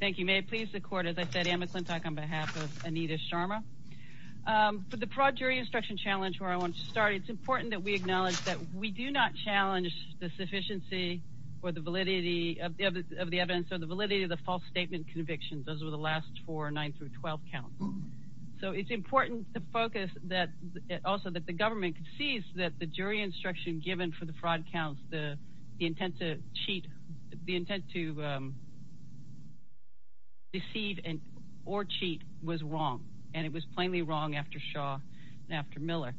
Thank you. May it please the court, as I said, Anne McClintock on behalf of Anita Sharma. For the fraud jury instruction challenge where I wanted to start, it's important that we acknowledge that we do not challenge the sufficiency or the validity of the evidence or the validity of the false statement convictions. Those were the last four 9-12 counts. So it's important to focus that also that the government sees that the jury instruction given for the fraud counts, the intent to cheat, the intent to deceive or cheat was wrong. And it was plainly wrong after Shaw and after Miller.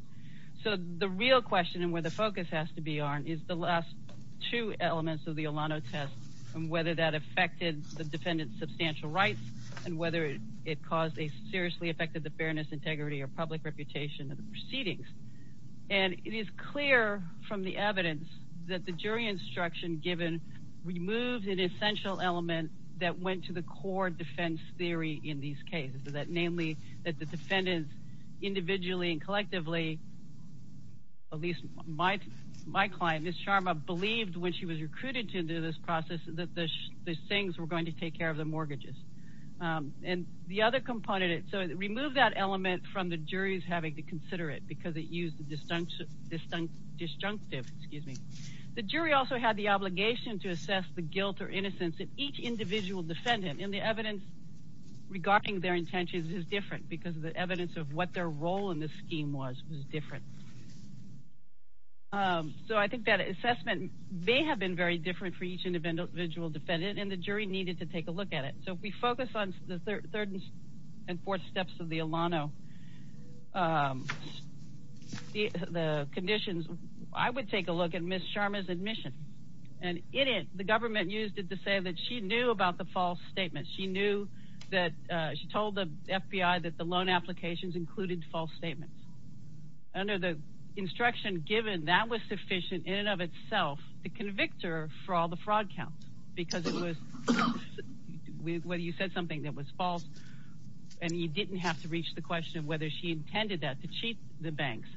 So the real question and where the focus has to be on is the last two elements of the Olano test and whether that affected the defendant's substantial rights and whether it caused a seriously affected the fairness, integrity or public reputation of the proceedings. And it is clear from the evidence that the jury instruction given removed an essential element that went to the core defense theory in these cases. So that namely that the defendants individually and collectively, at least my client, Ms. Sharma, believed when she was recruited to do this process that the Sings were going to take care of the mortgages. And the other component, so it removed that element from the jury's having to consider it because it used the disjunctive, excuse me. The jury also had the obligation to assess the guilt or innocence of each individual defendant. And the evidence regarding their intentions is different because of the evidence of what their role in this scheme was was different. So I think that assessment may have been very different for each individual defendant and the jury needed to take a look at it. So if we focus on the third and fourth steps of the Olano, the conditions, I would take a look at Ms. Sharma's admission. And in it, the government used it to say that she knew about the false statement. She knew that she told the FBI that the loan applications included false statements. Under the instruction given, that was sufficient in and of itself to convict her for all the fraud counts. Because it was whether you said something that was false and you didn't have to reach the question of whether she intended that to cheat the banks.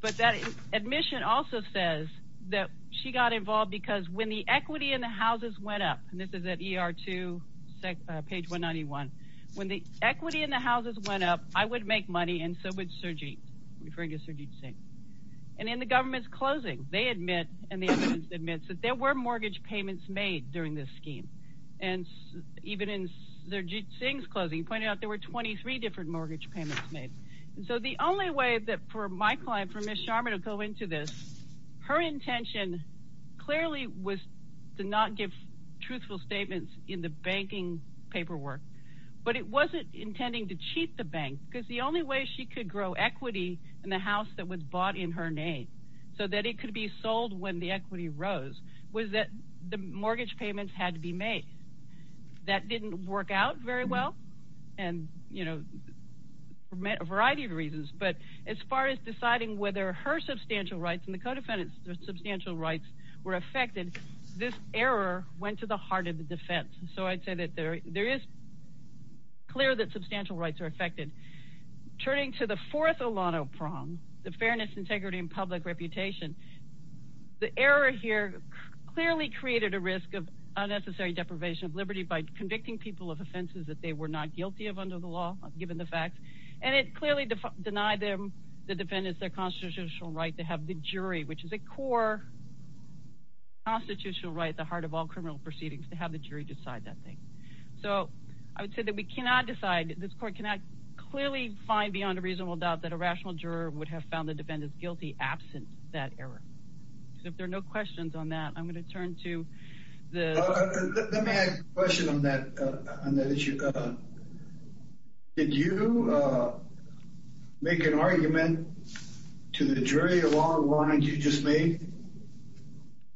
But that admission also says that she got involved because when the equity in the houses went up, and this is at ER2, page 191. When the equity in the houses went up, I would make money and so would Sajid, referring to Sajid Singh. And in the government's closing, they admit and the evidence admits that there were mortgage payments made during this scheme. And even in Sajid Singh's closing, he pointed out there were 23 different mortgage payments made. So the only way that for my client, for Ms. Sharma to go into this, her intention clearly was to not give truthful statements in the banking paperwork. But it wasn't intending to cheat the bank because the only way she could grow equity in the house that was bought in her name. So that it could be sold when the equity rose was that the mortgage payments had to be made. That didn't work out very well and, you know, for a variety of reasons. But as far as deciding whether her substantial rights and the co-defendants' substantial rights were affected, this error went to the heart of the defense. So I'd say that there is clear that substantial rights are affected. Turning to the fourth Olano prong, the fairness, integrity, and public reputation, the error here clearly created a risk of unnecessary deprivation of liberty by convicting people of offenses that they were not guilty of under the law, given the fact. And it clearly denied them, the defendants, their constitutional right to have the jury, which is a core constitutional right at the heart of all criminal proceedings, to have the jury decide that thing. So I would say that we cannot decide, this court cannot clearly find beyond a reasonable doubt that a rational juror would have found the defendants guilty absent that error. So if there are no questions on that, I'm going to turn to the… Let me ask a question on that issue. Did you make an argument to the jury along the lines you just made?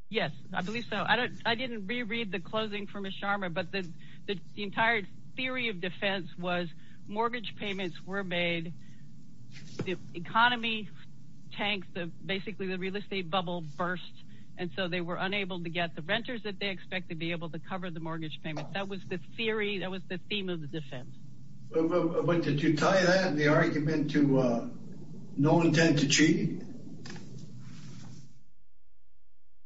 Yes, I believe so. I didn't reread the closing from Ms. Sharma, but the entire theory of defense was mortgage payments were made, the economy tanked, basically the real estate bubble burst, and so they were unable to get the renters that they expected to be able to cover the mortgage payments. That was the theory, that was the theme of the defense. But did you tie that, the argument, to no intent to cheat?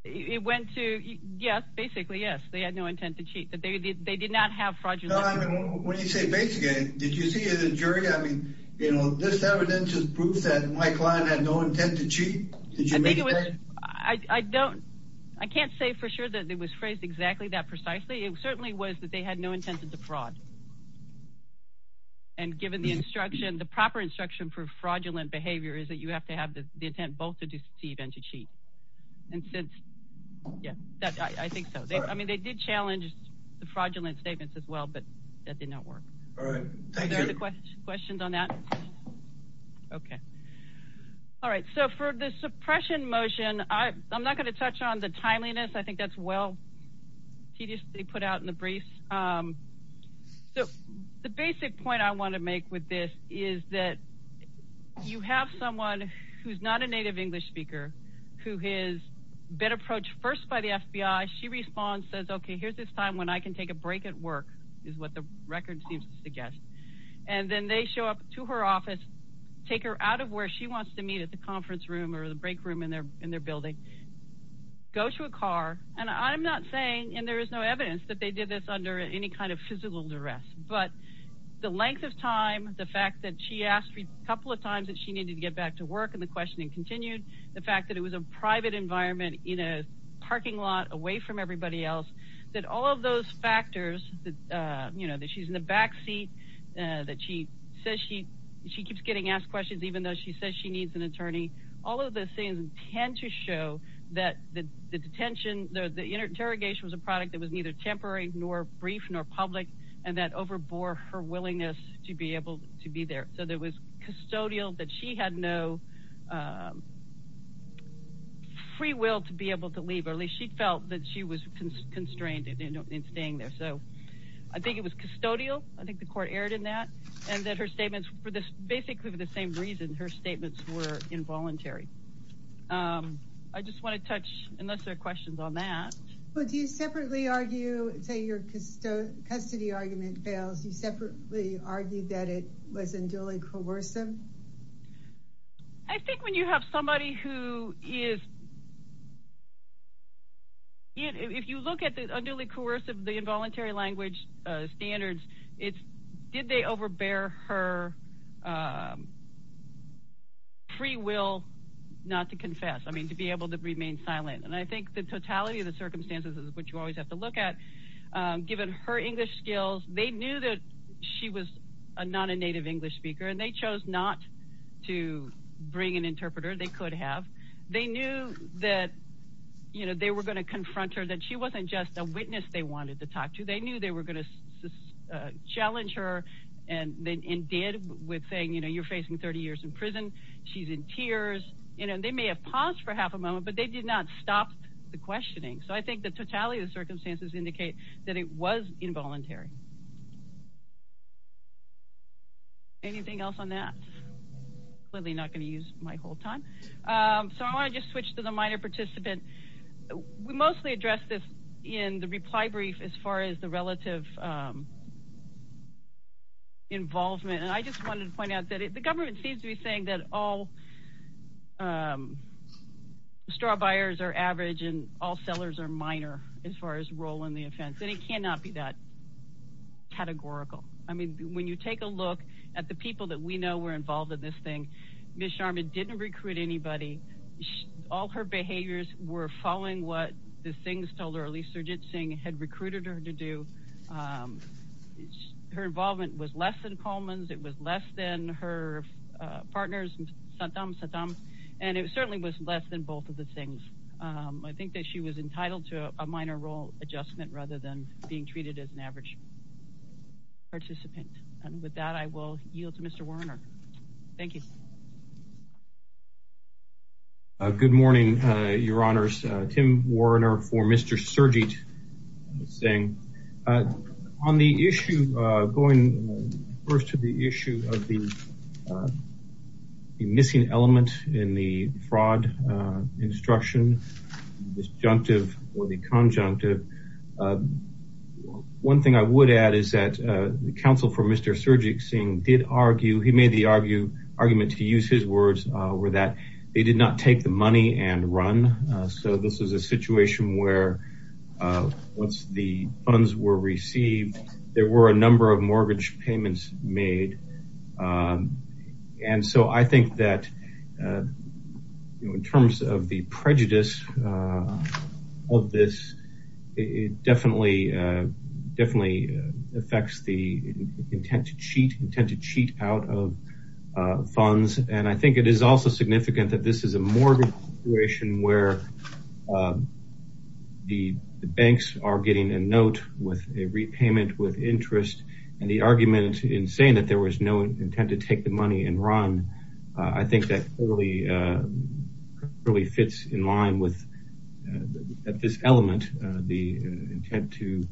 It went to yes, basically yes, they had no intent to cheat. They did not have fraudulent… When you say basically, did you see it in the jury? I mean, you know, this evidence is proof that my client had no intent to cheat. I can't say for sure that it was phrased exactly that precisely. It certainly was that they had no intent to defraud. And given the instruction, the proper instruction for fraudulent behavior is that you have to have the intent both to deceive and to cheat. And since, yes, I think so. I mean, they did challenge the fraudulent statements as well, but that did not work. Are there any questions on that? Okay. All right, so for the suppression motion, I'm not going to touch on the timeliness. I think that's well tediously put out in the briefs. So the basic point I want to make with this is that you have someone who's not a native English speaker who has been approached first by the FBI. She responds, says, okay, here's this time when I can take a break at work, is what the record seems to suggest. And then they show up to her office, take her out of where she wants to meet at the conference room or the break room in their building, go to a car. And I'm not saying, and there is no evidence that they did this under any kind of physical duress. But the length of time, the fact that she asked a couple of times that she needed to get back to work and the questioning continued, the fact that it was a private environment in a parking lot away from everybody else, that all of those factors, that she's in the backseat, that she keeps getting asked questions even though she says she needs an attorney, all of those things tend to show that the interrogation was a product that was neither temporary nor brief nor public, and that overbore her willingness to be able to be there. So there was custodial, that she had no free will to be able to leave, or at least she felt that she was constrained in staying there. So I think it was custodial. I think the court erred in that. And that her statements, basically for the same reason, her statements were involuntary. I just want to touch, unless there are questions on that. Well, do you separately argue, say your custody argument fails, you separately argue that it was unduly coercive? I think when you have somebody who is, if you look at the unduly coercive, the involuntary language standards, it's did they overbear her free will not to confess, I mean, to be able to remain silent. And I think the totality of the circumstances is what you always have to look at. Given her English skills, they knew that she was not a native English speaker, and they chose not to bring an interpreter, they could have. They knew that they were going to confront her, that she wasn't just a witness they wanted to talk to. They knew they were going to challenge her and did with saying, you know, you're facing 30 years in prison, she's in tears. You know, they may have paused for half a moment, but they did not stop the questioning. So I think the totality of the circumstances indicate that it was involuntary. Anything else on that? Clearly not going to use my whole time. So I want to just switch to the minor participant. We mostly addressed this in the reply brief as far as the relative involvement. And I just wanted to point out that the government seems to be saying that all straw buyers are average and all sellers are minor as far as role in the offense. And it cannot be that categorical. I mean, when you take a look at the people that we know were involved in this thing, Ms. Sharma didn't recruit anybody. All her behaviors were following what the things told her, at least Surjit Singh had recruited her to do. Her involvement was less than Coleman's. It was less than her partner's. And it certainly was less than both of the things. I think that she was entitled to a minor role adjustment rather than being treated as an average participant. And with that, I will yield to Mr. Warner. Thank you. Good morning, Your Honors. This is Tim Warner for Mr. Surjit Singh. On the issue, going first to the issue of the missing element in the fraud instruction, disjunctive or the conjunctive, one thing I would add is that the counsel for Mr. Surjit Singh did argue, he made the argument, to use his words, were that they did not take the money and run. So this is a situation where once the funds were received, there were a number of mortgage payments made. And so I think that in terms of the prejudice of this, it definitely affects the intent to cheat out of funds. And I think it is also significant that this is a mortgage situation where the banks are getting a note with a repayment with interest. And the argument in saying that there was no intent to take the money and run, I think that really fits in line with this element. The intent to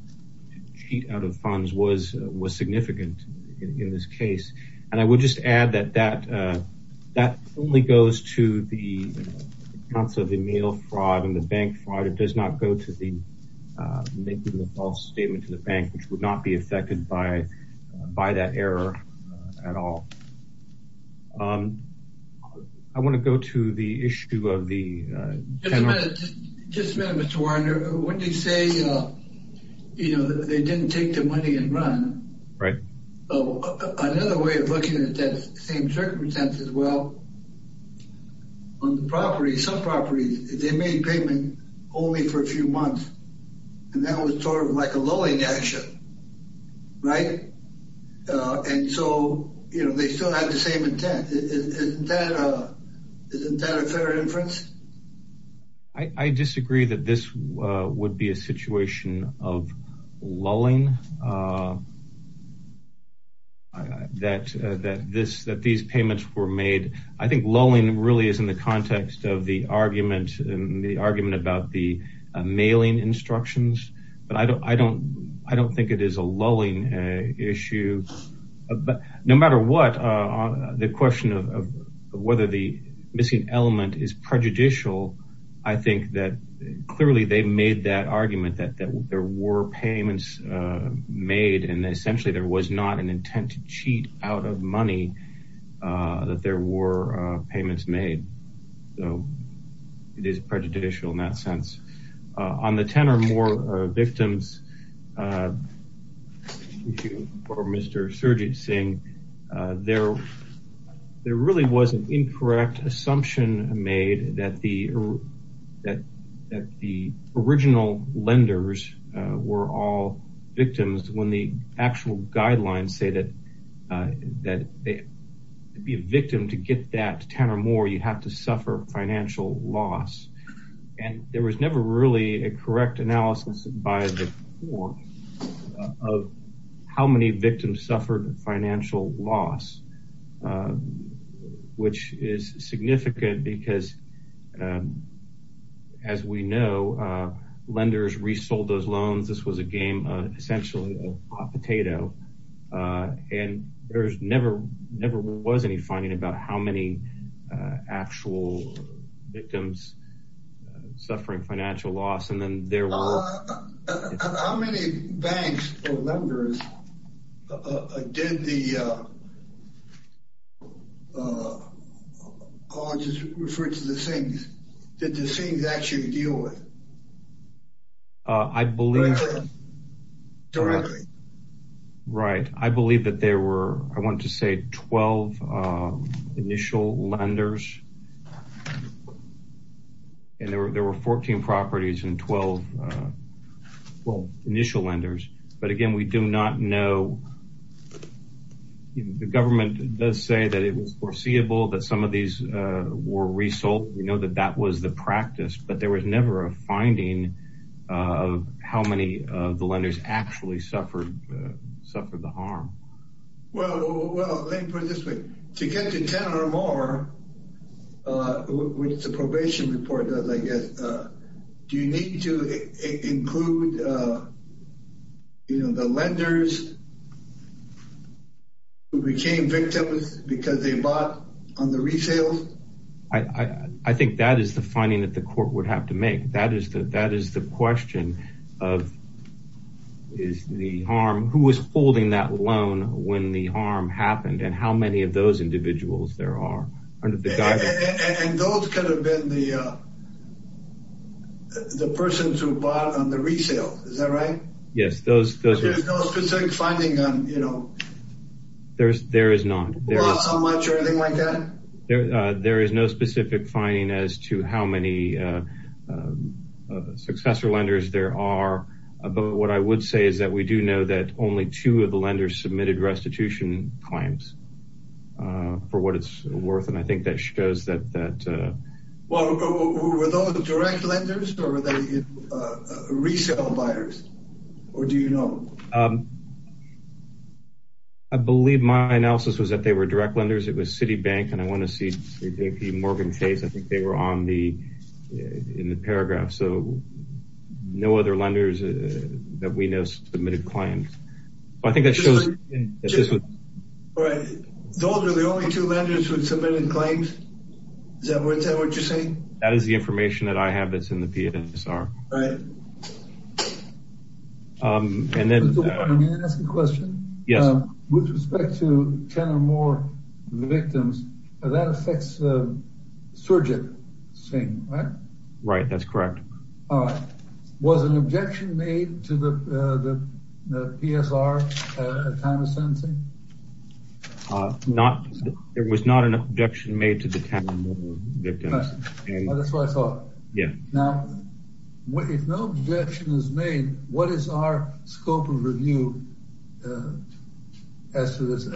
cheat out of funds was significant in this case. And I would just add that that only goes to the counsel of the mail fraud and the bank fraud. It does not go to the making a false statement to the bank, which would not be affected by that error at all. I want to go to the issue of the... Just a minute, Mr. Warner. When you say, you know, they didn't take the money and run. Right. Another way of looking at that same circumstances, well, on the property, some properties, they made payment only for a few months. And that was sort of like a lulling action. Right. And so, you know, they still have the same intent. Isn't that a fair inference? I disagree that this would be a situation of lulling, that these payments were made. I think lulling really is in the context of the argument and the argument about the mailing instructions. But I don't think it is a lulling issue. But no matter what, the question of whether the missing element is prejudicial, I think that clearly they made that argument that there were payments made. And essentially, there was not an intent to cheat out of money that there were payments made. So it is prejudicial in that sense. On the 10 or more victims issue for Mr. Surjit Singh, there really was an incorrect assumption made that the original lenders were all victims. When the actual guidelines say that to be a victim, to get that 10 or more, you have to suffer financial loss. And there was never really a correct analysis by the court of how many victims suffered financial loss, which is significant because, as we know, lenders resold those loans. This was a game, essentially a hot potato. And there never was any finding about how many actual victims suffering financial loss. And then there were… How many banks or lenders did the colleges refer to the Sings? Did the Sings actually deal with? I believe… Directly. Right. I believe that there were, I want to say, 12 initial lenders. And there were 14 properties and 12 initial lenders. But again, we do not know. The government does say that it was foreseeable that some of these were resold. We know that that was the practice, but there was never a finding of how many of the lenders actually suffered the harm. Well, let me put it this way. To get to 10 or more, which the probation report does, I guess, do you need to include the lenders who became victims because they bought on the resale? I think that is the finding that the court would have to make. That is the question of who was holding that loan when the harm happened and how many of those individuals there are. And those could have been the persons who bought on the resale. Is that right? Yes, those… But there's no specific finding on, you know… There is not. Who bought so much or anything like that? There is no specific finding as to how many successor lenders there are. But what I would say is that we do know that only two of the lenders submitted restitution claims for what it's worth. And I think that shows that… Were those direct lenders or were they resale buyers? Or do you know? I believe my analysis was that they were direct lenders. It was Citibank, and I want to see the Morgan case. I think they were on the – in the paragraph. So no other lenders that we know submitted claims. I think that shows that this was… All right. Those are the only two lenders who submitted claims? Is that what you're saying? That is the information that I have that's in the PSR. All right. And then… Can I ask a question? Yes. With respect to 10 or more victims, that affects surgicing, right? Right. That's correct. All right. Was an objection made to the PSR at time of sentencing? Not – there was not an objection made to the 10 or more victims. That's what I thought. Yeah. Now, if no objection is made, what is our scope of review as to this?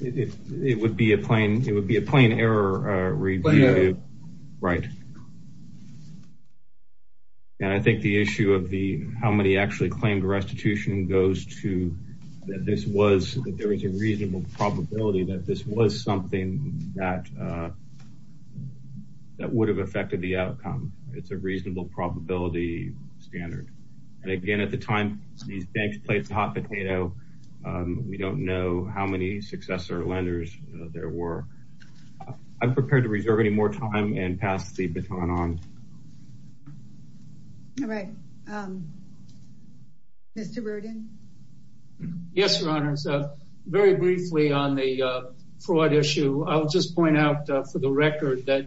It would be a plain error review. Plain error. Right. And I think the issue of the how many actually claimed restitution goes to that this was – that there was a reasonable probability that this was something that would have affected the outcome. It's a reasonable probability standard. And again, at the time, these banks played the hot potato. We don't know how many successor lenders there were. I'm prepared to reserve any more time and pass the baton on. All right. Mr. Roden? Yes, Your Honor. In terms of very briefly on the fraud issue, I'll just point out for the record that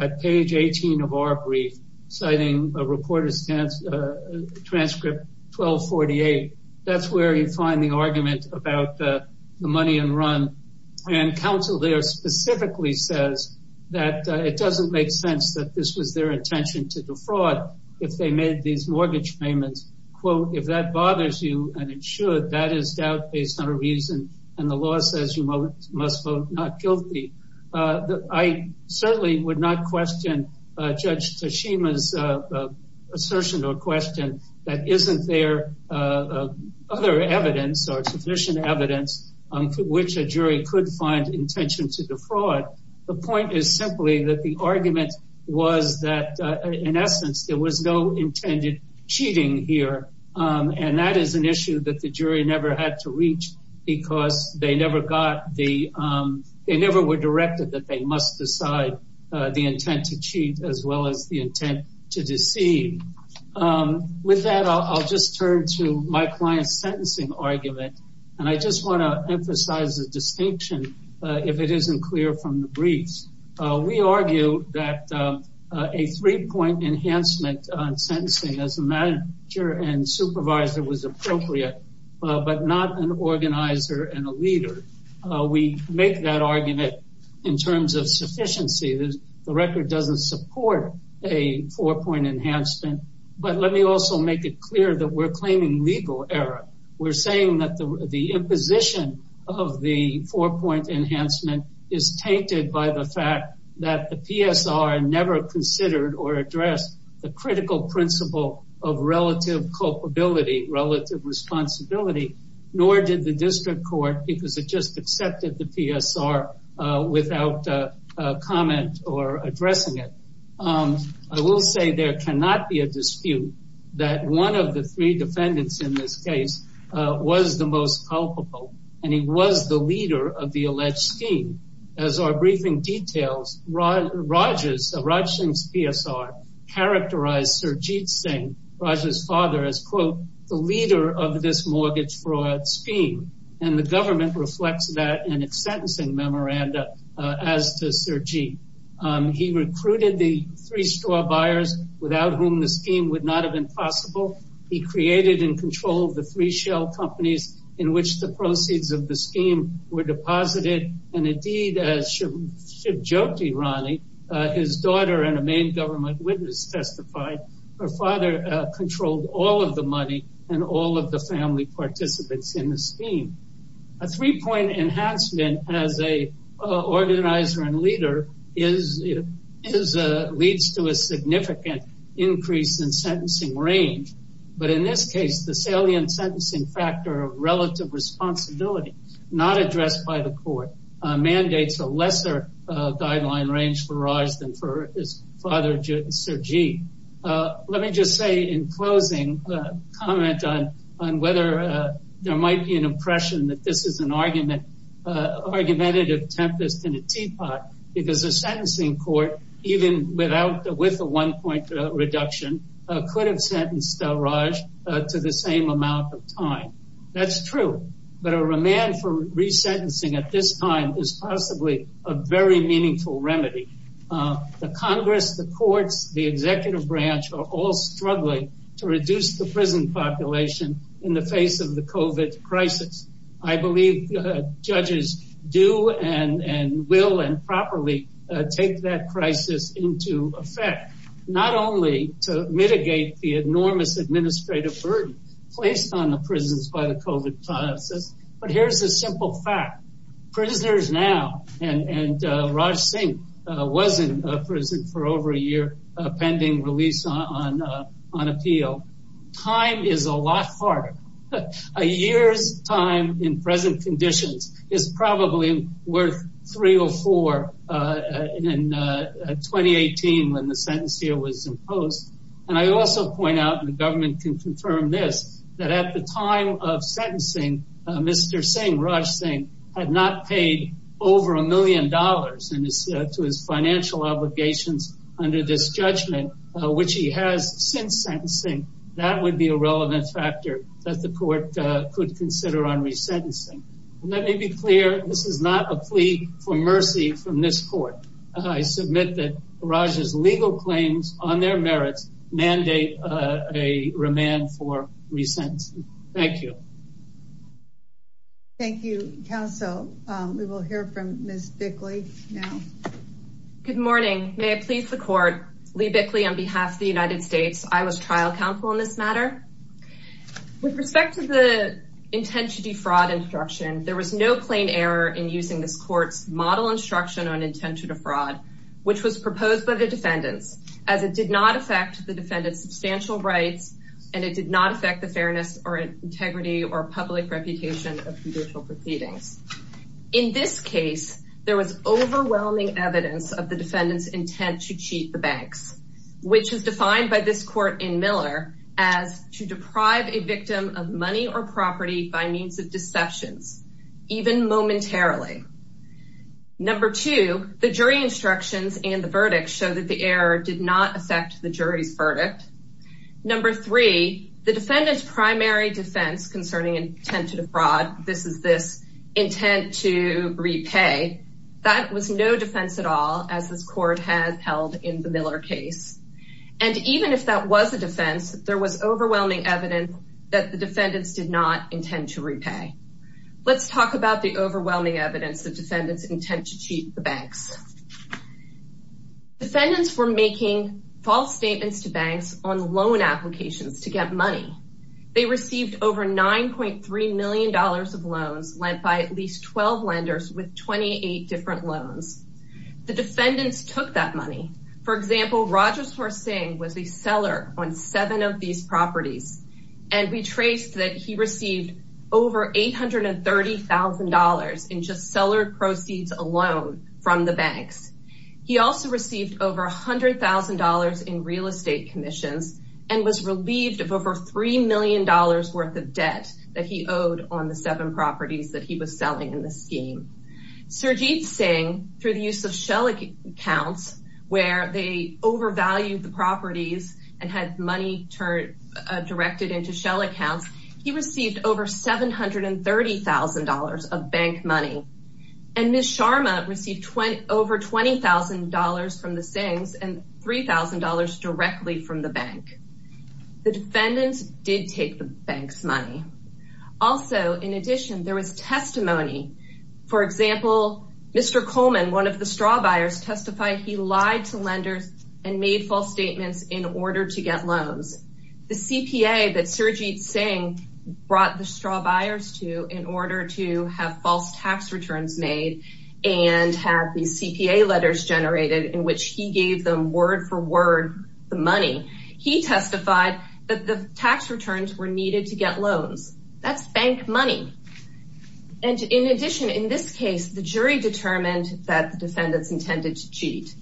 at page 18 of our brief, citing reporter's transcript 1248, that's where you find the argument about the money in run. And counsel there specifically says that it doesn't make sense that this was their intention to defraud if they made these mortgage payments. Quote, if that bothers you, and it should, that is doubt based on a reason. And the law says you must vote not guilty. I certainly would not question Judge Tsushima's assertion or question that isn't there other evidence or sufficient evidence for which a jury could find intention to defraud. The point is simply that the argument was that, in essence, there was no intended cheating here. And that is an issue that the jury never had to reach because they never were directed that they must decide the intent to cheat as well as the intent to deceive. With that, I'll just turn to my client's sentencing argument. And I just want to emphasize the distinction, if it isn't clear from the briefs. We argue that a three-point enhancement on sentencing as a manager and supervisor was appropriate, but not an organizer and a leader. We make that argument in terms of sufficiency. The record doesn't support a four-point enhancement. But let me also make it clear that we're claiming legal error. We're saying that the imposition of the four-point enhancement is tainted by the fact that the PSR never considered or addressed the critical principle of relative culpability, relative responsibility, nor did the district court because it just accepted the PSR without comment or addressing it. I will say there cannot be a dispute that one of the three defendants in this case was the most culpable, and he was the leader of the alleged scheme. As our briefing details, Raj Singh's PSR characterized Sarjeet Singh, Raj's father, as, quote, the leader of this mortgage fraud scheme. And the government reflects that in its sentencing memoranda as to Sarjeet. He recruited the three store buyers without whom the scheme would not have been possible. He created and controlled the three shell companies in which the proceeds of the scheme were deposited. And, indeed, as Shivjyoti Rani, his daughter, and a main government witness testified, her father controlled all of the money and all of the family participants in the scheme. A three-point enhancement as a organizer and leader leads to a significant increase in sentencing range. But in this case, the salient sentencing factor of relative responsibility not addressed by the court mandates a lesser guideline range for Raj than for his father, Sarjeet. Let me just say in closing a comment on whether there might be an impression that this is an argumentative tempest in a teapot, because a sentencing court, even with a one-point reduction, could have sentenced Raj to the same amount of time. That's true. But a remand for resentencing at this time is possibly a very meaningful remedy. The Congress, the courts, the executive branch are all struggling to reduce the prison population in the face of the COVID crisis. I believe judges do and will and properly take that crisis into effect, not only to mitigate the enormous administrative burden placed on the prisons by the COVID crisis, but here's a simple fact. Prisoners now and Raj Singh was in prison for over a year pending release on appeal. Time is a lot harder. A year's time in present conditions is probably worth three or four in 2018 when the sentence here was imposed. And I also point out, and the government can confirm this, that at the time of sentencing, Mr. Singh, Raj Singh, had not paid over a million dollars to his financial obligations under this judgment, which he has since sentencing. That would be a relevant factor that the court could consider on resentencing. Let me be clear. This is not a plea for mercy from this court. I submit that Raj's legal claims on their merits mandate a remand for resentencing. Thank you. Thank you, counsel. We will hear from Ms. Bickley now. Good morning. May I please the court? Lee Bickley on behalf of the United States. I was trial counsel in this matter. With respect to the intent to defraud instruction, there was no plain error in using this court's model instruction on intent to defraud, which was proposed by the defendants, as it did not affect the defendants' substantial rights and it did not affect the fairness or integrity or public reputation of judicial proceedings. In this case, there was overwhelming evidence of the defendants' intent to cheat the banks, which is defined by this court in Miller as to deprive a victim of money or property by means of deceptions, even momentarily. Number two, the jury instructions and the verdict show that the error did not affect the jury's verdict. Number three, the defendants' primary defense concerning intent to defraud, this is this intent to repay, that was no defense at all, as this court has held in the Miller case. And even if that was a defense, there was overwhelming evidence that the defendants did not intend to repay. Let's talk about the overwhelming evidence the defendants' intent to cheat the banks. Defendants were making false statements to banks on loan applications to get money. They received over $9.3 million of loans lent by at least 12 lenders with 28 different loans. The defendants took that money. For example, Rajeshwar Singh was a seller on seven of these properties, and we traced that he received over $830,000 in just seller proceeds alone from the banks. He also received over $100,000 in real estate commissions and was relieved of over $3 million worth of debt that he owed on the seven properties that he was selling in the scheme. Sajid Singh, through the use of shell accounts, where they overvalued the properties and had money directed into shell accounts, he received over $730,000 of bank money. And Ms. Sharma received over $20,000 from the Singhs and $3,000 directly from the bank. The defendants did take the bank's money. Also, in addition, there was testimony. For example, Mr. Coleman, one of the straw buyers, testified he lied to lenders and made false statements in order to get loans. The CPA that Sajid Singh brought the straw buyers to in order to have false tax returns made and had these CPA letters generated in which he gave them word for word the money, he testified that the tax returns were needed to get loans. That's bank money. And in addition, in this case, the jury determined that the defendants intended to cheat.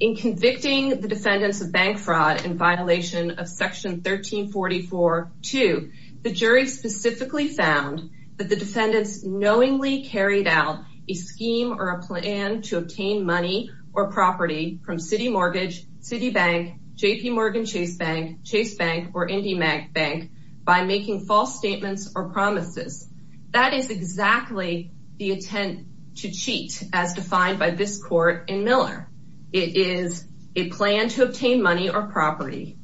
In convicting the defendants of bank fraud in violation of Section 1344-2, the jury specifically found that the defendants knowingly carried out a scheme or a plan to obtain money or property from City Mortgage, Citibank, JPMorgan Chase Bank, Chase Bank, or Indy Bank by making false statements or promises. That is exactly the intent to cheat as defined by this court in Miller. It is a plan to obtain money or property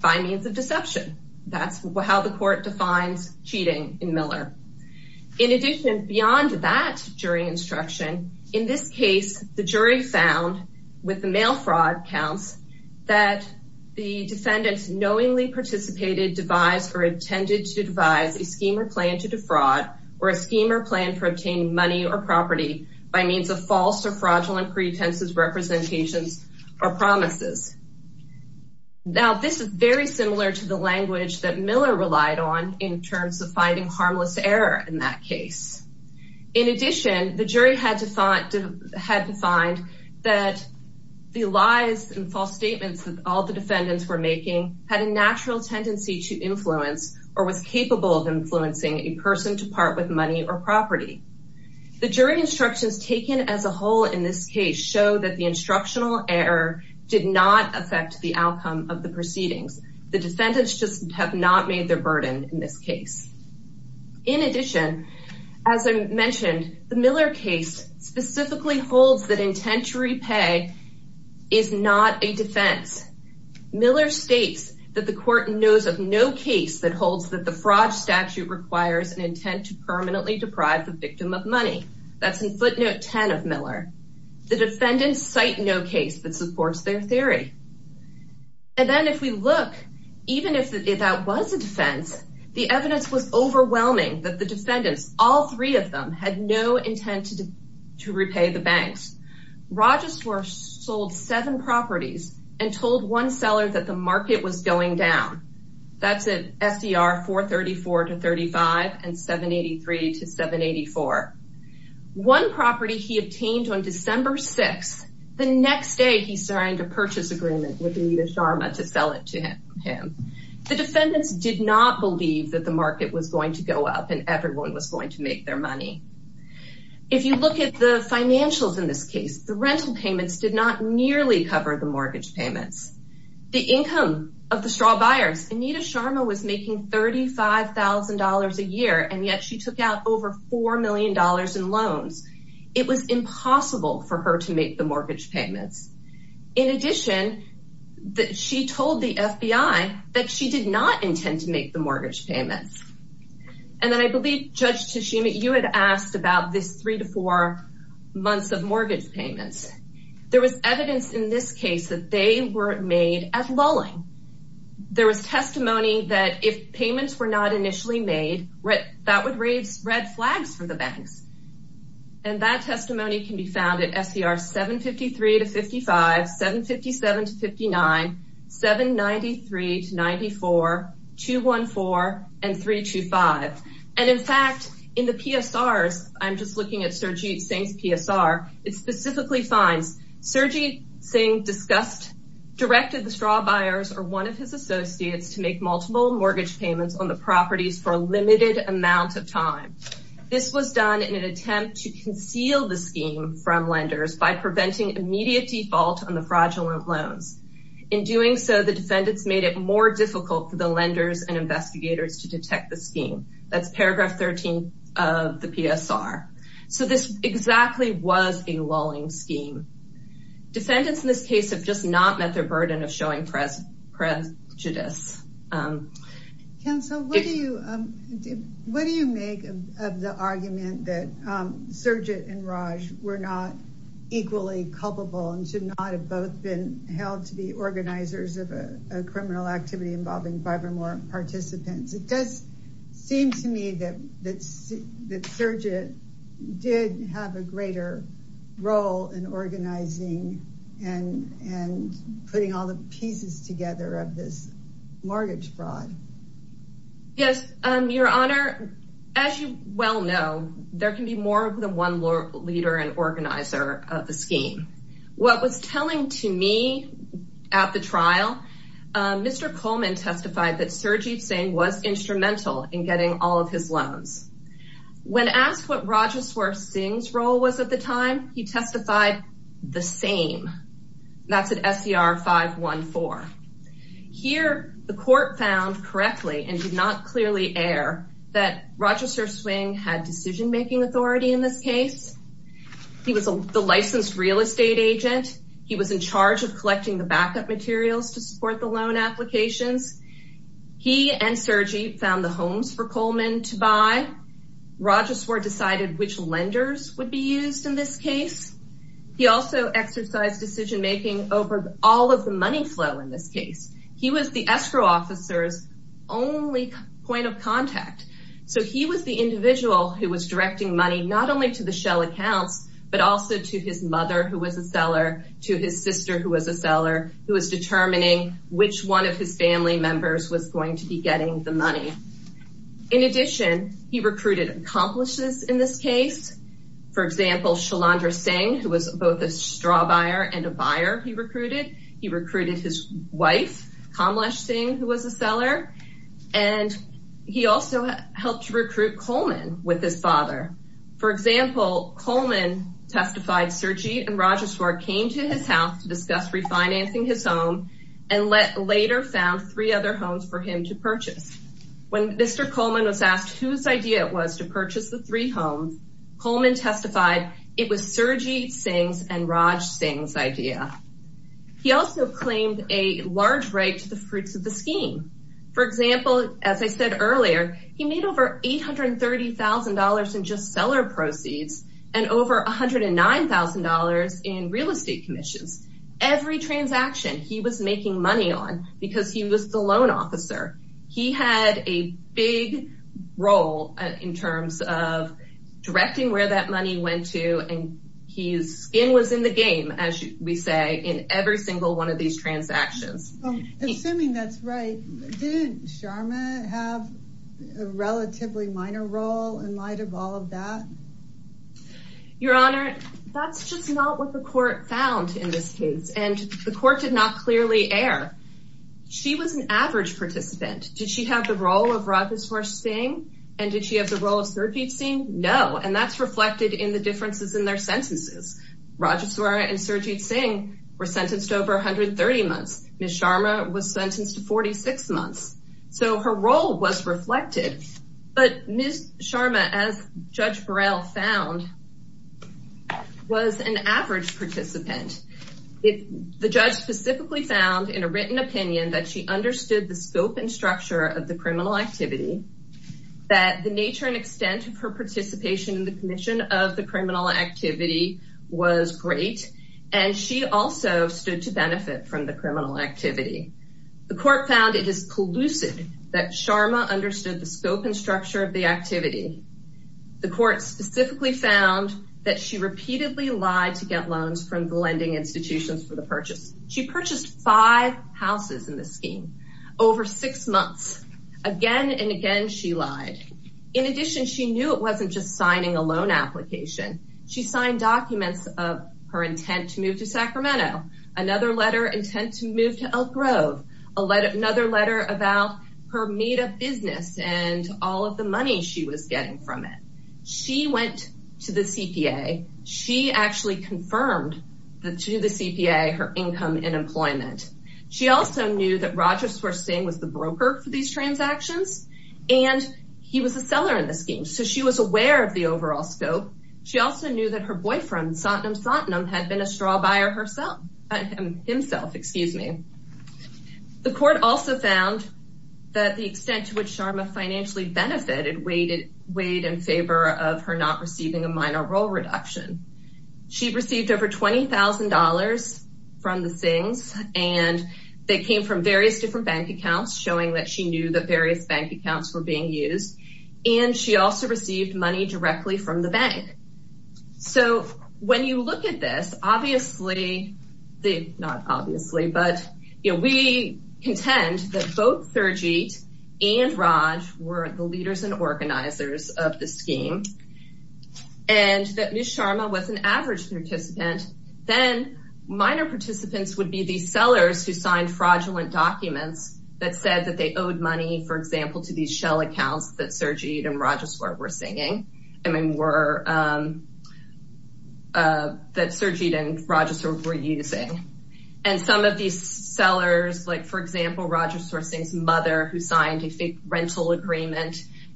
by means of deception. That's how the court defines cheating in Miller. In addition, beyond that jury instruction, in this case, the jury found, with the mail fraud counts, that the defendants knowingly participated, devised, or intended to devise a scheme or plan to defraud or a scheme or plan for obtaining money or property by means of false or fraudulent pretenses, representations, or promises. Now, this is very similar to the language that Miller relied on in terms of finding harmless error in that case. In addition, the jury had to find that the lies and false statements that all the defendants were making had a natural tendency to influence or was capable of influencing a person to part with money or property. The jury instructions taken as a whole in this case show that the instructional error did not affect the outcome of the proceedings. The defendants just have not made their burden in this case. In addition, as I mentioned, the Miller case specifically holds that intent to repay is not a defense. Miller states that the court knows of no case that holds that the fraud statute requires an intent to permanently deprive the victim of money. That's in footnote 10 of Miller. The defendants cite no case that supports their theory. And then if we look, even if that was a defense, the evidence was overwhelming that the defendants, all three of them, had no intent to repay the banks. Rogersworth sold seven properties and told one seller that the market was going down. That's at SDR 434-35 and 783-784. One property he obtained on December 6th. The next day he signed a purchase agreement with Anita Sharma to sell it to him. The defendants did not believe that the market was going to go up and everyone was going to make their money. If you look at the financials in this case, the rental payments did not nearly cover the mortgage payments. The income of the straw buyers, Anita Sharma was making $35,000 a year, and yet she took out over $4 million in loans. It was impossible for her to make the mortgage payments. In addition, she told the FBI that she did not intend to make the mortgage payments. And then I believe, Judge Tashima, you had asked about this three to four months of mortgage payments. There was evidence in this case that they were made at lulling. There was testimony that if payments were not initially made, that would raise red flags for the banks. And that testimony can be found at SDR 753 to 55, 757 to 59, 793 to 94, 214, and 325. And, in fact, in the PSRs, I'm just looking at Surjit Singh's PSR, it specifically finds Surjit Singh discussed, directed the straw buyers or one of his associates to make multiple mortgage payments on the properties for a limited amount of time. This was done in an attempt to conceal the scheme from lenders by preventing immediate default on the fraudulent loans. In doing so, the defendants made it more difficult for the lenders and investigators to detect the scheme. That's paragraph 13 of the PSR. So this exactly was a lulling scheme. Defendants in this case have just not met their burden of showing prejudice. What do you make of the argument that Surjit and Raj were not equally culpable and should not have both been held to be organizers of a criminal activity involving five or more participants? It does seem to me that Surjit did have a greater role in organizing and putting all the pieces together of this mortgage fraud. Yes, Your Honor, as you well know, there can be more than one leader and organizer of the scheme. What was telling to me at the trial, Mr. Coleman testified that Surjit Singh was instrumental in getting all of his loans. When asked what Rajaswar Singh's role was at the time, he testified the same. That's at SCR 514. Here the court found correctly and did not clearly air that Rajaswar Singh had decision-making authority in this case. He was the licensed real estate agent. He was in charge of collecting the backup materials to support the loan applications. He and Surjit found the homes for Coleman to buy. Rajaswar decided which lenders would be used in this case. He also exercised decision-making over all of the money flow in this case. He was the escrow officer's only point of contact. So he was the individual who was directing money, not only to the shell accounts, but also to his mother who was a seller, to his sister who was a seller, who was determining which one of his family members was going to be getting the money. In addition, he recruited accomplices in this case. For example, Shalandra Singh, who was both a straw buyer and a buyer, he recruited. He recruited his wife, Kamlesh Singh, who was a seller. And he also helped recruit Coleman with his father. For example, Coleman testified Surjit and Rajaswar came to his house to discuss refinancing his home and later found three other homes for him to buy. When Mr. Coleman was asked whose idea it was to purchase the three homes, Coleman testified, it was Surjit Singh's and Raj Singh's idea. He also claimed a large right to the fruits of the scheme. For example, as I said earlier, he made over $830,000 in just seller proceeds and over $109,000 in real estate commissions. Every transaction he was making money on because he was the loan officer. He had a big role in terms of directing where that money went to. And his skin was in the game, as we say, in every single one of these transactions. Assuming that's right. Didn't Sharma have a relatively minor role in light of all of that? Your Honor, that's just not what the court found in this case. And the court did not clearly air. She was an average participant. Did she have the role of Rajeshwar Singh? And did she have the role of Surjit Singh? No. And that's reflected in the differences in their sentences. Rajeshwar and Surjit Singh were sentenced to over 130 months. Ms. Sharma was sentenced to 46 months. So her role was reflected. But Ms. Sharma, as Judge Burrell found, was an average participant. The judge specifically found in a written opinion that she understood the scope and structure of the criminal activity, that the nature and extent of her participation in the commission of the criminal activity was great, and she also stood to benefit from the criminal activity. The court found it is collusive that Sharma understood the scope and structure of the activity. The court specifically found that she repeatedly lied to get loans from lending institutions for the purchase. She purchased five houses in the scheme over six months. Again and again she lied. In addition, she knew it wasn't just signing a loan application. She signed documents of her intent to move to Sacramento, another letter intent to move to Elk Grove, another letter about her made-up business and all of the money she was getting from it. She went to the CPA. She actually confirmed to the CPA her income and employment. She also knew that Roger Swercing was the broker for these transactions, and he was a seller in the scheme. So she was aware of the overall scope. She also knew that her boyfriend, Satnam Satnam, had been a straw buyer himself. The court also found that the extent to which Sharma financially benefited weighed in favor of her not receiving a minor role reduction. She received over $20,000 from the Singhs, and they came from various different bank accounts, showing that she knew that various bank accounts were being used. And she also received money directly from the bank. So when you look at this, obviously, not obviously, but we contend that both of these were the owners and organizers of the scheme, and that Ms. Sharma was an average participant. Then minor participants would be the sellers who signed fraudulent documents that said that they owed money, for example, to these shell accounts that Sergide and Roger Swercing were using. And some of these sellers, like, for example, Roger Swercing's mother, who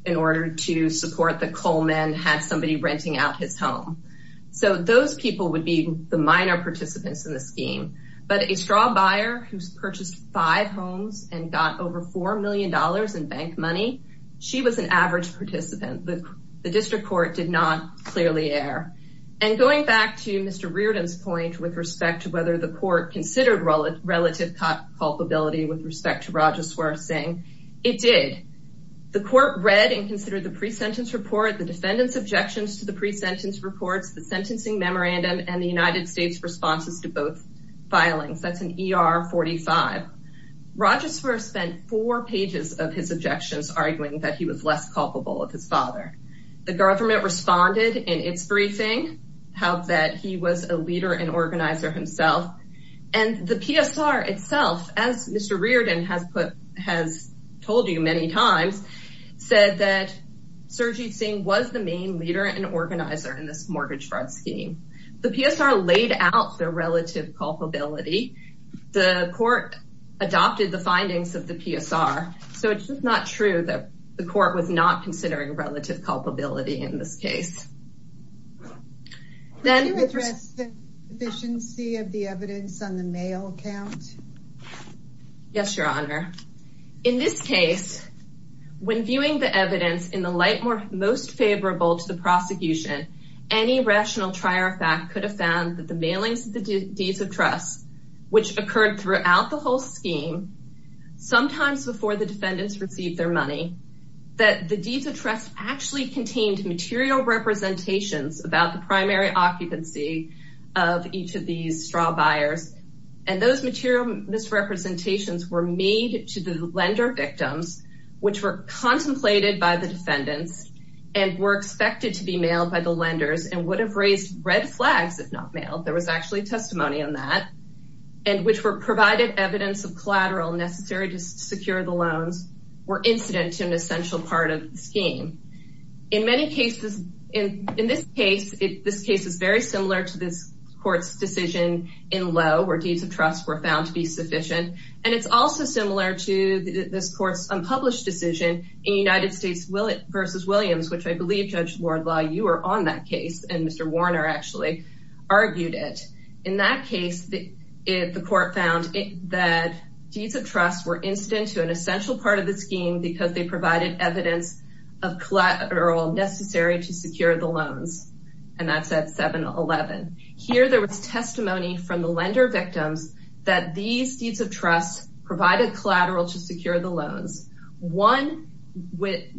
in order to support the Coleman had somebody renting out his home. So those people would be the minor participants in the scheme. But a straw buyer who's purchased five homes and got over $4 million in bank money, she was an average participant. The district court did not clearly err. And going back to Mr. Reardon's point with respect to whether the court considered relative culpability with respect to Roger Swercing, it did. The court read and considered the pre-sentence report, the defendant's objections to the pre-sentence reports, the sentencing memorandum, and the United States' responses to both filings. That's an ER-45. Roger Swercing spent four pages of his objections arguing that he was less culpable of his father. The government responded in its briefing that he was a leader and organizer himself. And the PSR itself, as Mr. Reardon has told you many times, said that Swercing was the main leader and organizer in this mortgage fraud scheme. The PSR laid out the relative culpability. The court adopted the findings of the PSR. So it's just not true that the court was not considering relative culpability in this case. Can you address the deficiency of the evidence on the mail count? Yes, Your Honor. In this case, when viewing the evidence in the light most favorable to the prosecution, any rational trier of fact could have found that the mailings of the deeds of trust, which occurred throughout the whole scheme, sometimes before the defendants received their money, that the deeds of trust actually contained material representations about the primary occupancy of each of these straw buyers. And those material misrepresentations were made to the lender victims, which were contemplated by the defendants and were expected to be mailed by the lenders and would have raised red flags if not mailed. There was actually testimony on that. And which were provided evidence of collateral necessary to secure the loans were incident to an essential part of the scheme. In many cases, in this case, this case is very similar to this court's decision in Lowe, where deeds of trust were found to be sufficient. And it's also similar to this court's unpublished decision in United States versus Williams, which I believe, Judge Lordlaw, you were on that case, and Mr. Warner actually argued it. In that case, the court found that deeds of trust were incident to an essential part of the scheme because they provided evidence of collateral necessary to secure the loans. And that's at 7-11. Here there was testimony from the lender victims that these deeds of trust provided collateral to secure the loans. One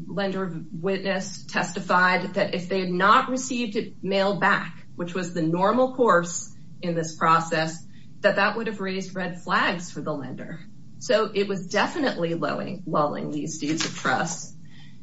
lender witness testified that if they had not received it mailed back, which was the normal course in this process, that that would have raised red flags for the lender. So it was definitely lulling these deeds of trust.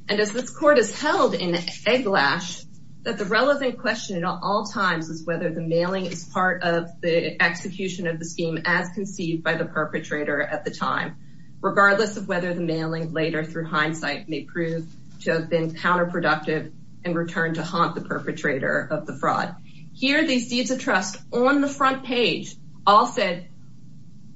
And as this court has held in egglash, that the relevant question at all times is whether the mailing is part of the execution of the scheme as conceived by the perpetrator at the time, regardless of whether the mailing later through hindsight may prove to have been counterproductive in return to haunt the perpetrator of the fraud. Here these deeds of trust on the front page all said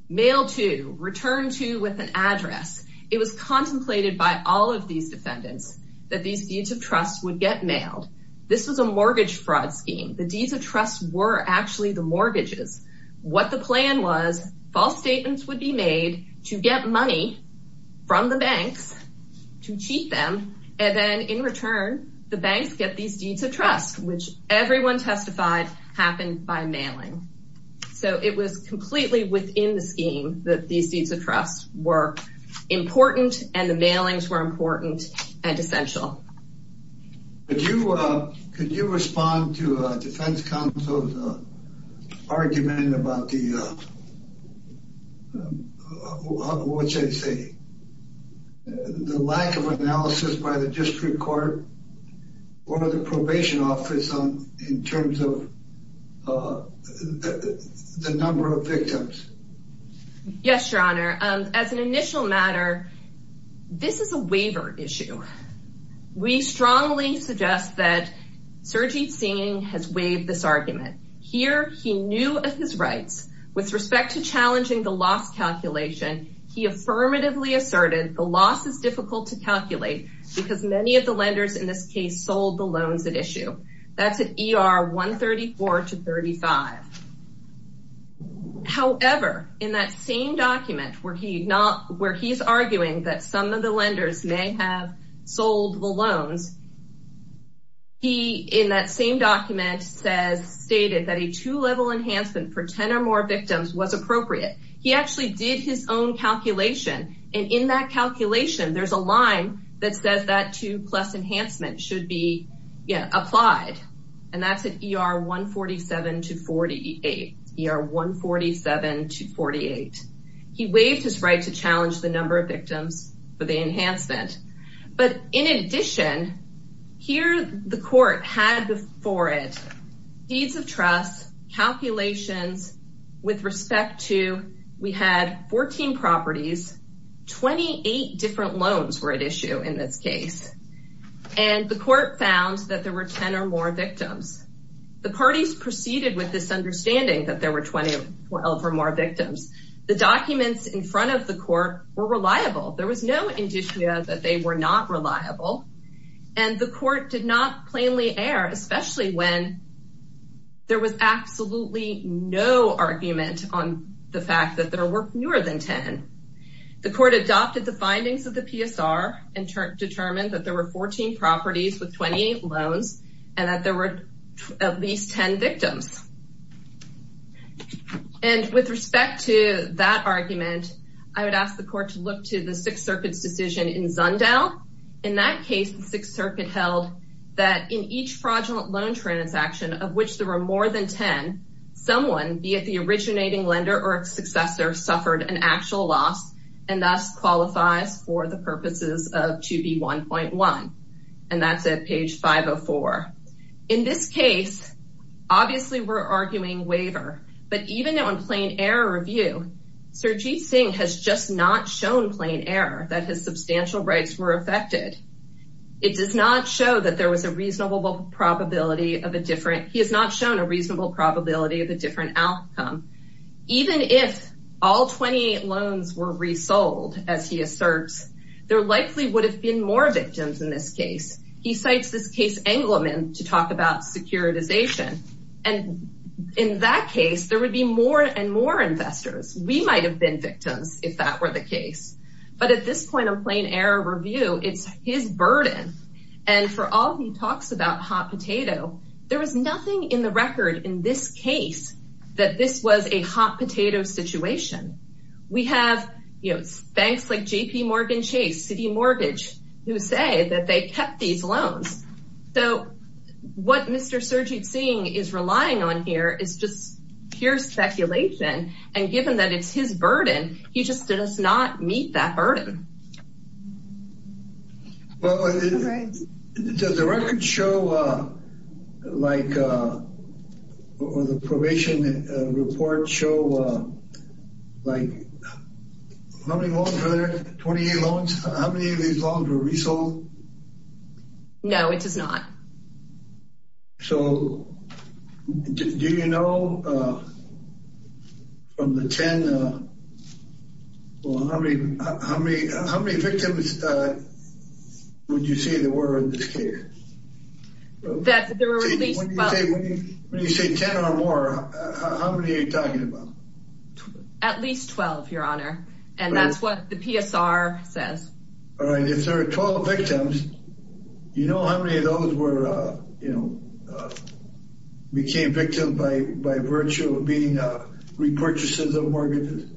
mail to, return to with an address. It was contemplated by all of these defendants that these deeds of trust would get mailed. This was a mortgage fraud scheme. The deeds of trust were actually the mortgages. What the plan was, false statements would be made to get money from the banks to cheat them, and then in return, the banks get these deeds of trust, which everyone testified happened by mailing. So it was completely within the scheme that these deeds of trust were important and the mailings were important and essential. Could you respond to a defense counsel's argument about the lack of analysis by in terms of the number of victims? Yes, Your Honor. As an initial matter, this is a waiver issue. We strongly suggest that Sergei Tsin has waived this argument. Here he knew of his rights. With respect to challenging the loss calculation, he affirmatively asserted the loss is difficult to calculate because many of the lenders in this case sold the loans at issue. That's at ER 134 to 35. However, in that same document where he's arguing that some of the lenders may have sold the loans, he in that same document stated that a two-level enhancement for 10 or more victims was appropriate. He actually did his own calculation, and in that calculation, there's a line that says that two-plus enhancement should be applied, and that's at ER 147 to 48. ER 147 to 48. He waived his right to challenge the number of victims for the enhancement. But in addition, here the court had before it deeds of trust, calculations with respect to we had 14 properties, 28 different loans were at issue in this case, and the court found that there were 10 or more victims. The parties proceeded with this understanding that there were 12 or more victims. The documents in front of the court were reliable. There was no indicia that they were not reliable, and the court did not plainly err, especially when there was absolutely no argument on the fact that there were fewer than 10. The court adopted the findings of the PSR and determined that there were 14 properties with 28 loans and that there were at least 10 victims. And with respect to that argument, I would ask the court to look to the Sixth Circuit's decision in Zundel. In that case, the Sixth Circuit held that in each fraudulent loan transaction of which there were more than 10, someone, be it the originating lender or its and thus qualifies for the purposes of 2B1.1. And that's at page 504. In this case, obviously we're arguing waiver, but even though in plain error review, Sirjeet Singh has just not shown plain error that his substantial rights were affected. It does not show that there was a reasonable probability of a different, he has not shown a reasonable probability of a different outcome. Even if all 28 loans were resold, as he asserts, there likely would have been more victims in this case. He cites this case Engleman to talk about securitization. And in that case, there would be more and more investors. We might have been victims if that were the case. But at this point of plain error review, it's his burden. And for all he talks about hot potato, there is nothing in the record in this case that this was a hot potato situation. We have banks like JPMorgan Chase, City Mortgage, who say that they kept these loans. So what Mr. Sirjeet Singh is relying on here is just pure speculation. And given that it's his burden, he just does not meet that burden. Well, does the record show, like, or the probation report show, like, how many loans were there, 28 loans? How many of these loans were resold? No, it does not. So do you know from the 10, how many victims would you say there were in this case? When you say 10 or more, how many are you talking about? At least 12, Your Honor. And that's what the PSR says. All right, if there are 12 victims, do you know how many of those were, you know, became victims by virtue of being repurchases of mortgages?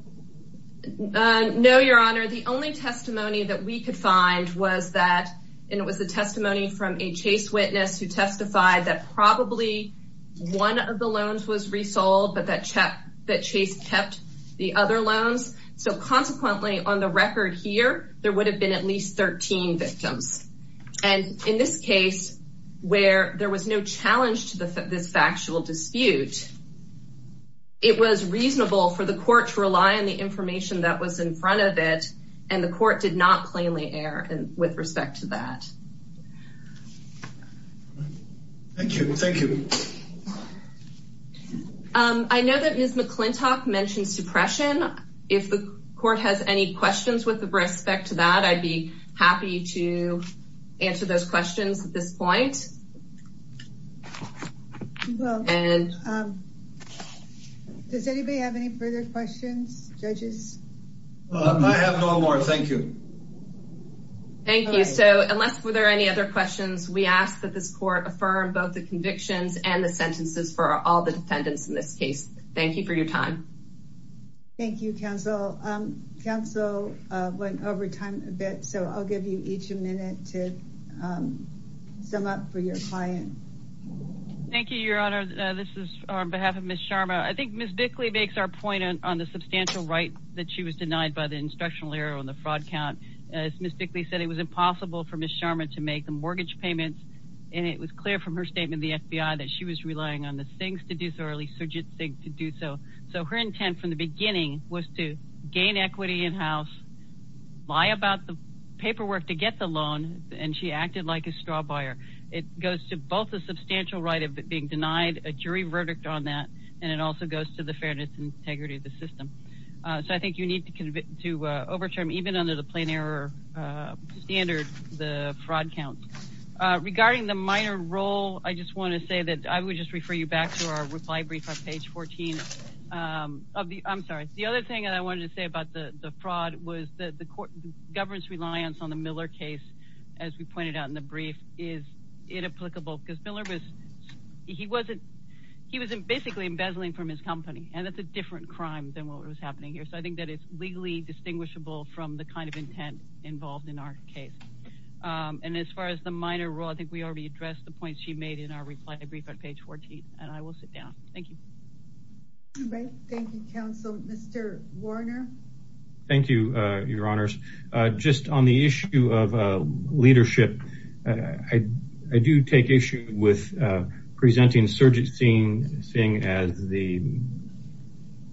No, Your Honor. The only testimony that we could find was that, and it was the testimony from a Chase witness who testified that probably one of the loans was resold, but that Chase kept the other loans. So consequently, on the record here, there would have been at least 13 victims. And in this case, where there was no challenge to this factual dispute, it was reasonable for the court to rely on the information that was in front of it, and the court did not plainly err with respect to that. Thank you. Thank you. I know that Ms. McClintock mentioned suppression. If the court has any questions with respect to that, I'd be happy to answer those questions at this point. Does anybody have any further questions? Judges? I have no more. Thank you. Thank you. So unless were there any other questions, we ask that this court affirm both the convictions and the sentences for all the defendants in this case. Thank you for your time. Thank you, counsel. Counsel went over time a bit, so I'll give you each a minute to sum up for your client. Thank you, Your Honor. This is on behalf of Ms. Sharma. I think Ms. Bickley makes our point on the substantial right that she was denied by the instructional error on the fraud count. As Ms. Bickley said, it was impossible for Ms. Sharma to make the mortgage payments, and it was clear from her statement in the FBI that she was relying on the SIGs to do so, or at least surrogate SIGs to do so. So her intent from the beginning was to gain equity in-house, lie about the paperwork to get the loan, and she acted like a straw buyer. It goes to both a substantial right of being denied a jury verdict on that, and it also goes to the fairness and integrity of the system. So I think you need to overturn, even under the plain error standard, the fraud. Regarding the minor role, I just want to say that I would just refer you back to our reply brief on page 14. I'm sorry. The other thing that I wanted to say about the fraud was the government's reliance on the Miller case, as we pointed out in the brief, is inapplicable, because Miller was – he wasn't – he was basically embezzling from his company, and that's a different crime than what was happening here. So I think that it's legally distinguishable from the kind of intent involved in our case. And as far as the minor role, I think we already addressed the points she made in our reply brief on page 14, and I will sit down. Thank you. Great. Thank you, counsel. Mr. Warner? Thank you, Your Honors. Just on the issue of leadership, I do take issue with presenting Surgeon Singh as the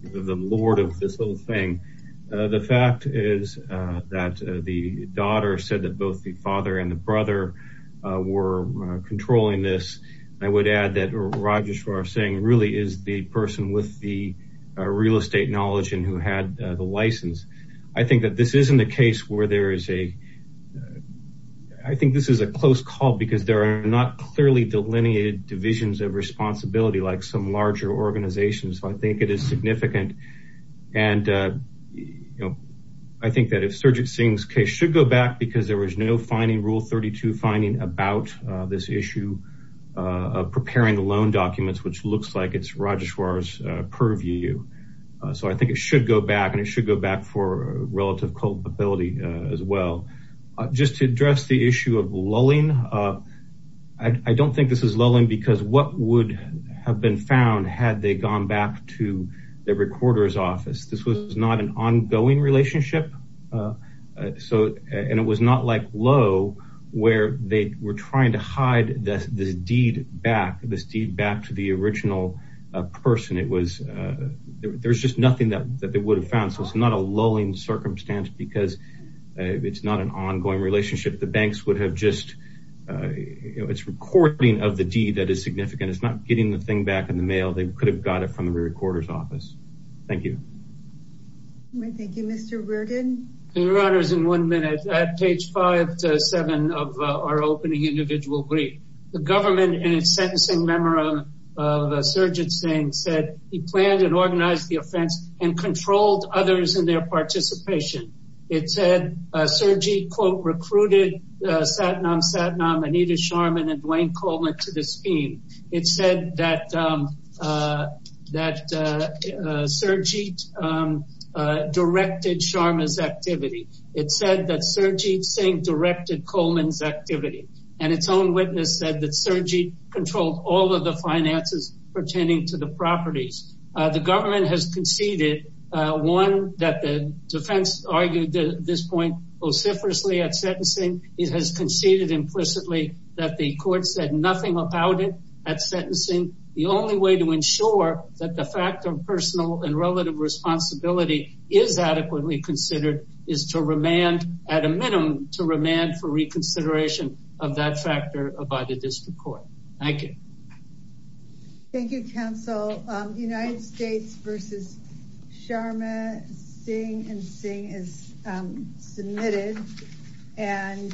lord of this whole thing. The fact is that the daughter said that both the father and the brother were controlling this. I would add that Rajeshwar Singh really is the person with the real estate knowledge and who had the license. I think that this isn't a case where there is a – I think this is a close call because there are not clearly delineated divisions of responsibility like some larger organizations. So I think it is significant. And I think that if Surgeon Singh's case should go back because there was no finding, Rule 32 finding, about this issue of preparing the loan documents, which looks like it's Rajeshwar's purview. So I think it should go back, and it should go back for relative culpability as well. Just to address the issue of lulling, I don't think this is lulling because what would have been found had they gone back to the recorder's office? This was not an ongoing relationship, and it was not like Lowe where they were trying to hide this deed back, this deed back to the original person. There's just nothing that they would have found. So it's not a lulling circumstance because it's not an ongoing relationship. The banks would have just – it's recording of the deed that is significant. It's not getting the thing back in the mail. They could have got it from the recorder's office. Thank you. Thank you. Mr. Reardon? Your Honors, in one minute, at page 5-7 of our opening individual brief, the government in its sentencing memorandum of Surgeon Singh said he planned and organized the offense and controlled others in their participation. It said Serjeet, quote, recruited Satnam, Satnam, Anita Sharma, and Dwayne Coleman to this scheme. It said that Serjeet directed Sharma's activity. It said that Serjeet Singh directed Coleman's activity. And its own witness said that Serjeet controlled all of the finances pertaining to the properties. The government has conceded, one, that the defense argued this point vociferously at sentencing. It has conceded implicitly that the court said nothing about it at sentencing. The only way to ensure that the fact of personal and relative responsibility is adequately considered is to remand, at a minimum, to remand for reconsideration of that factor by the district court. Thank you. Thank you, counsel. United States v. Sharma, Singh, and Singh is submitted. And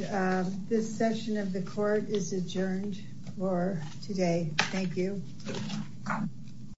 this session of the court is adjourned for today. Thank you.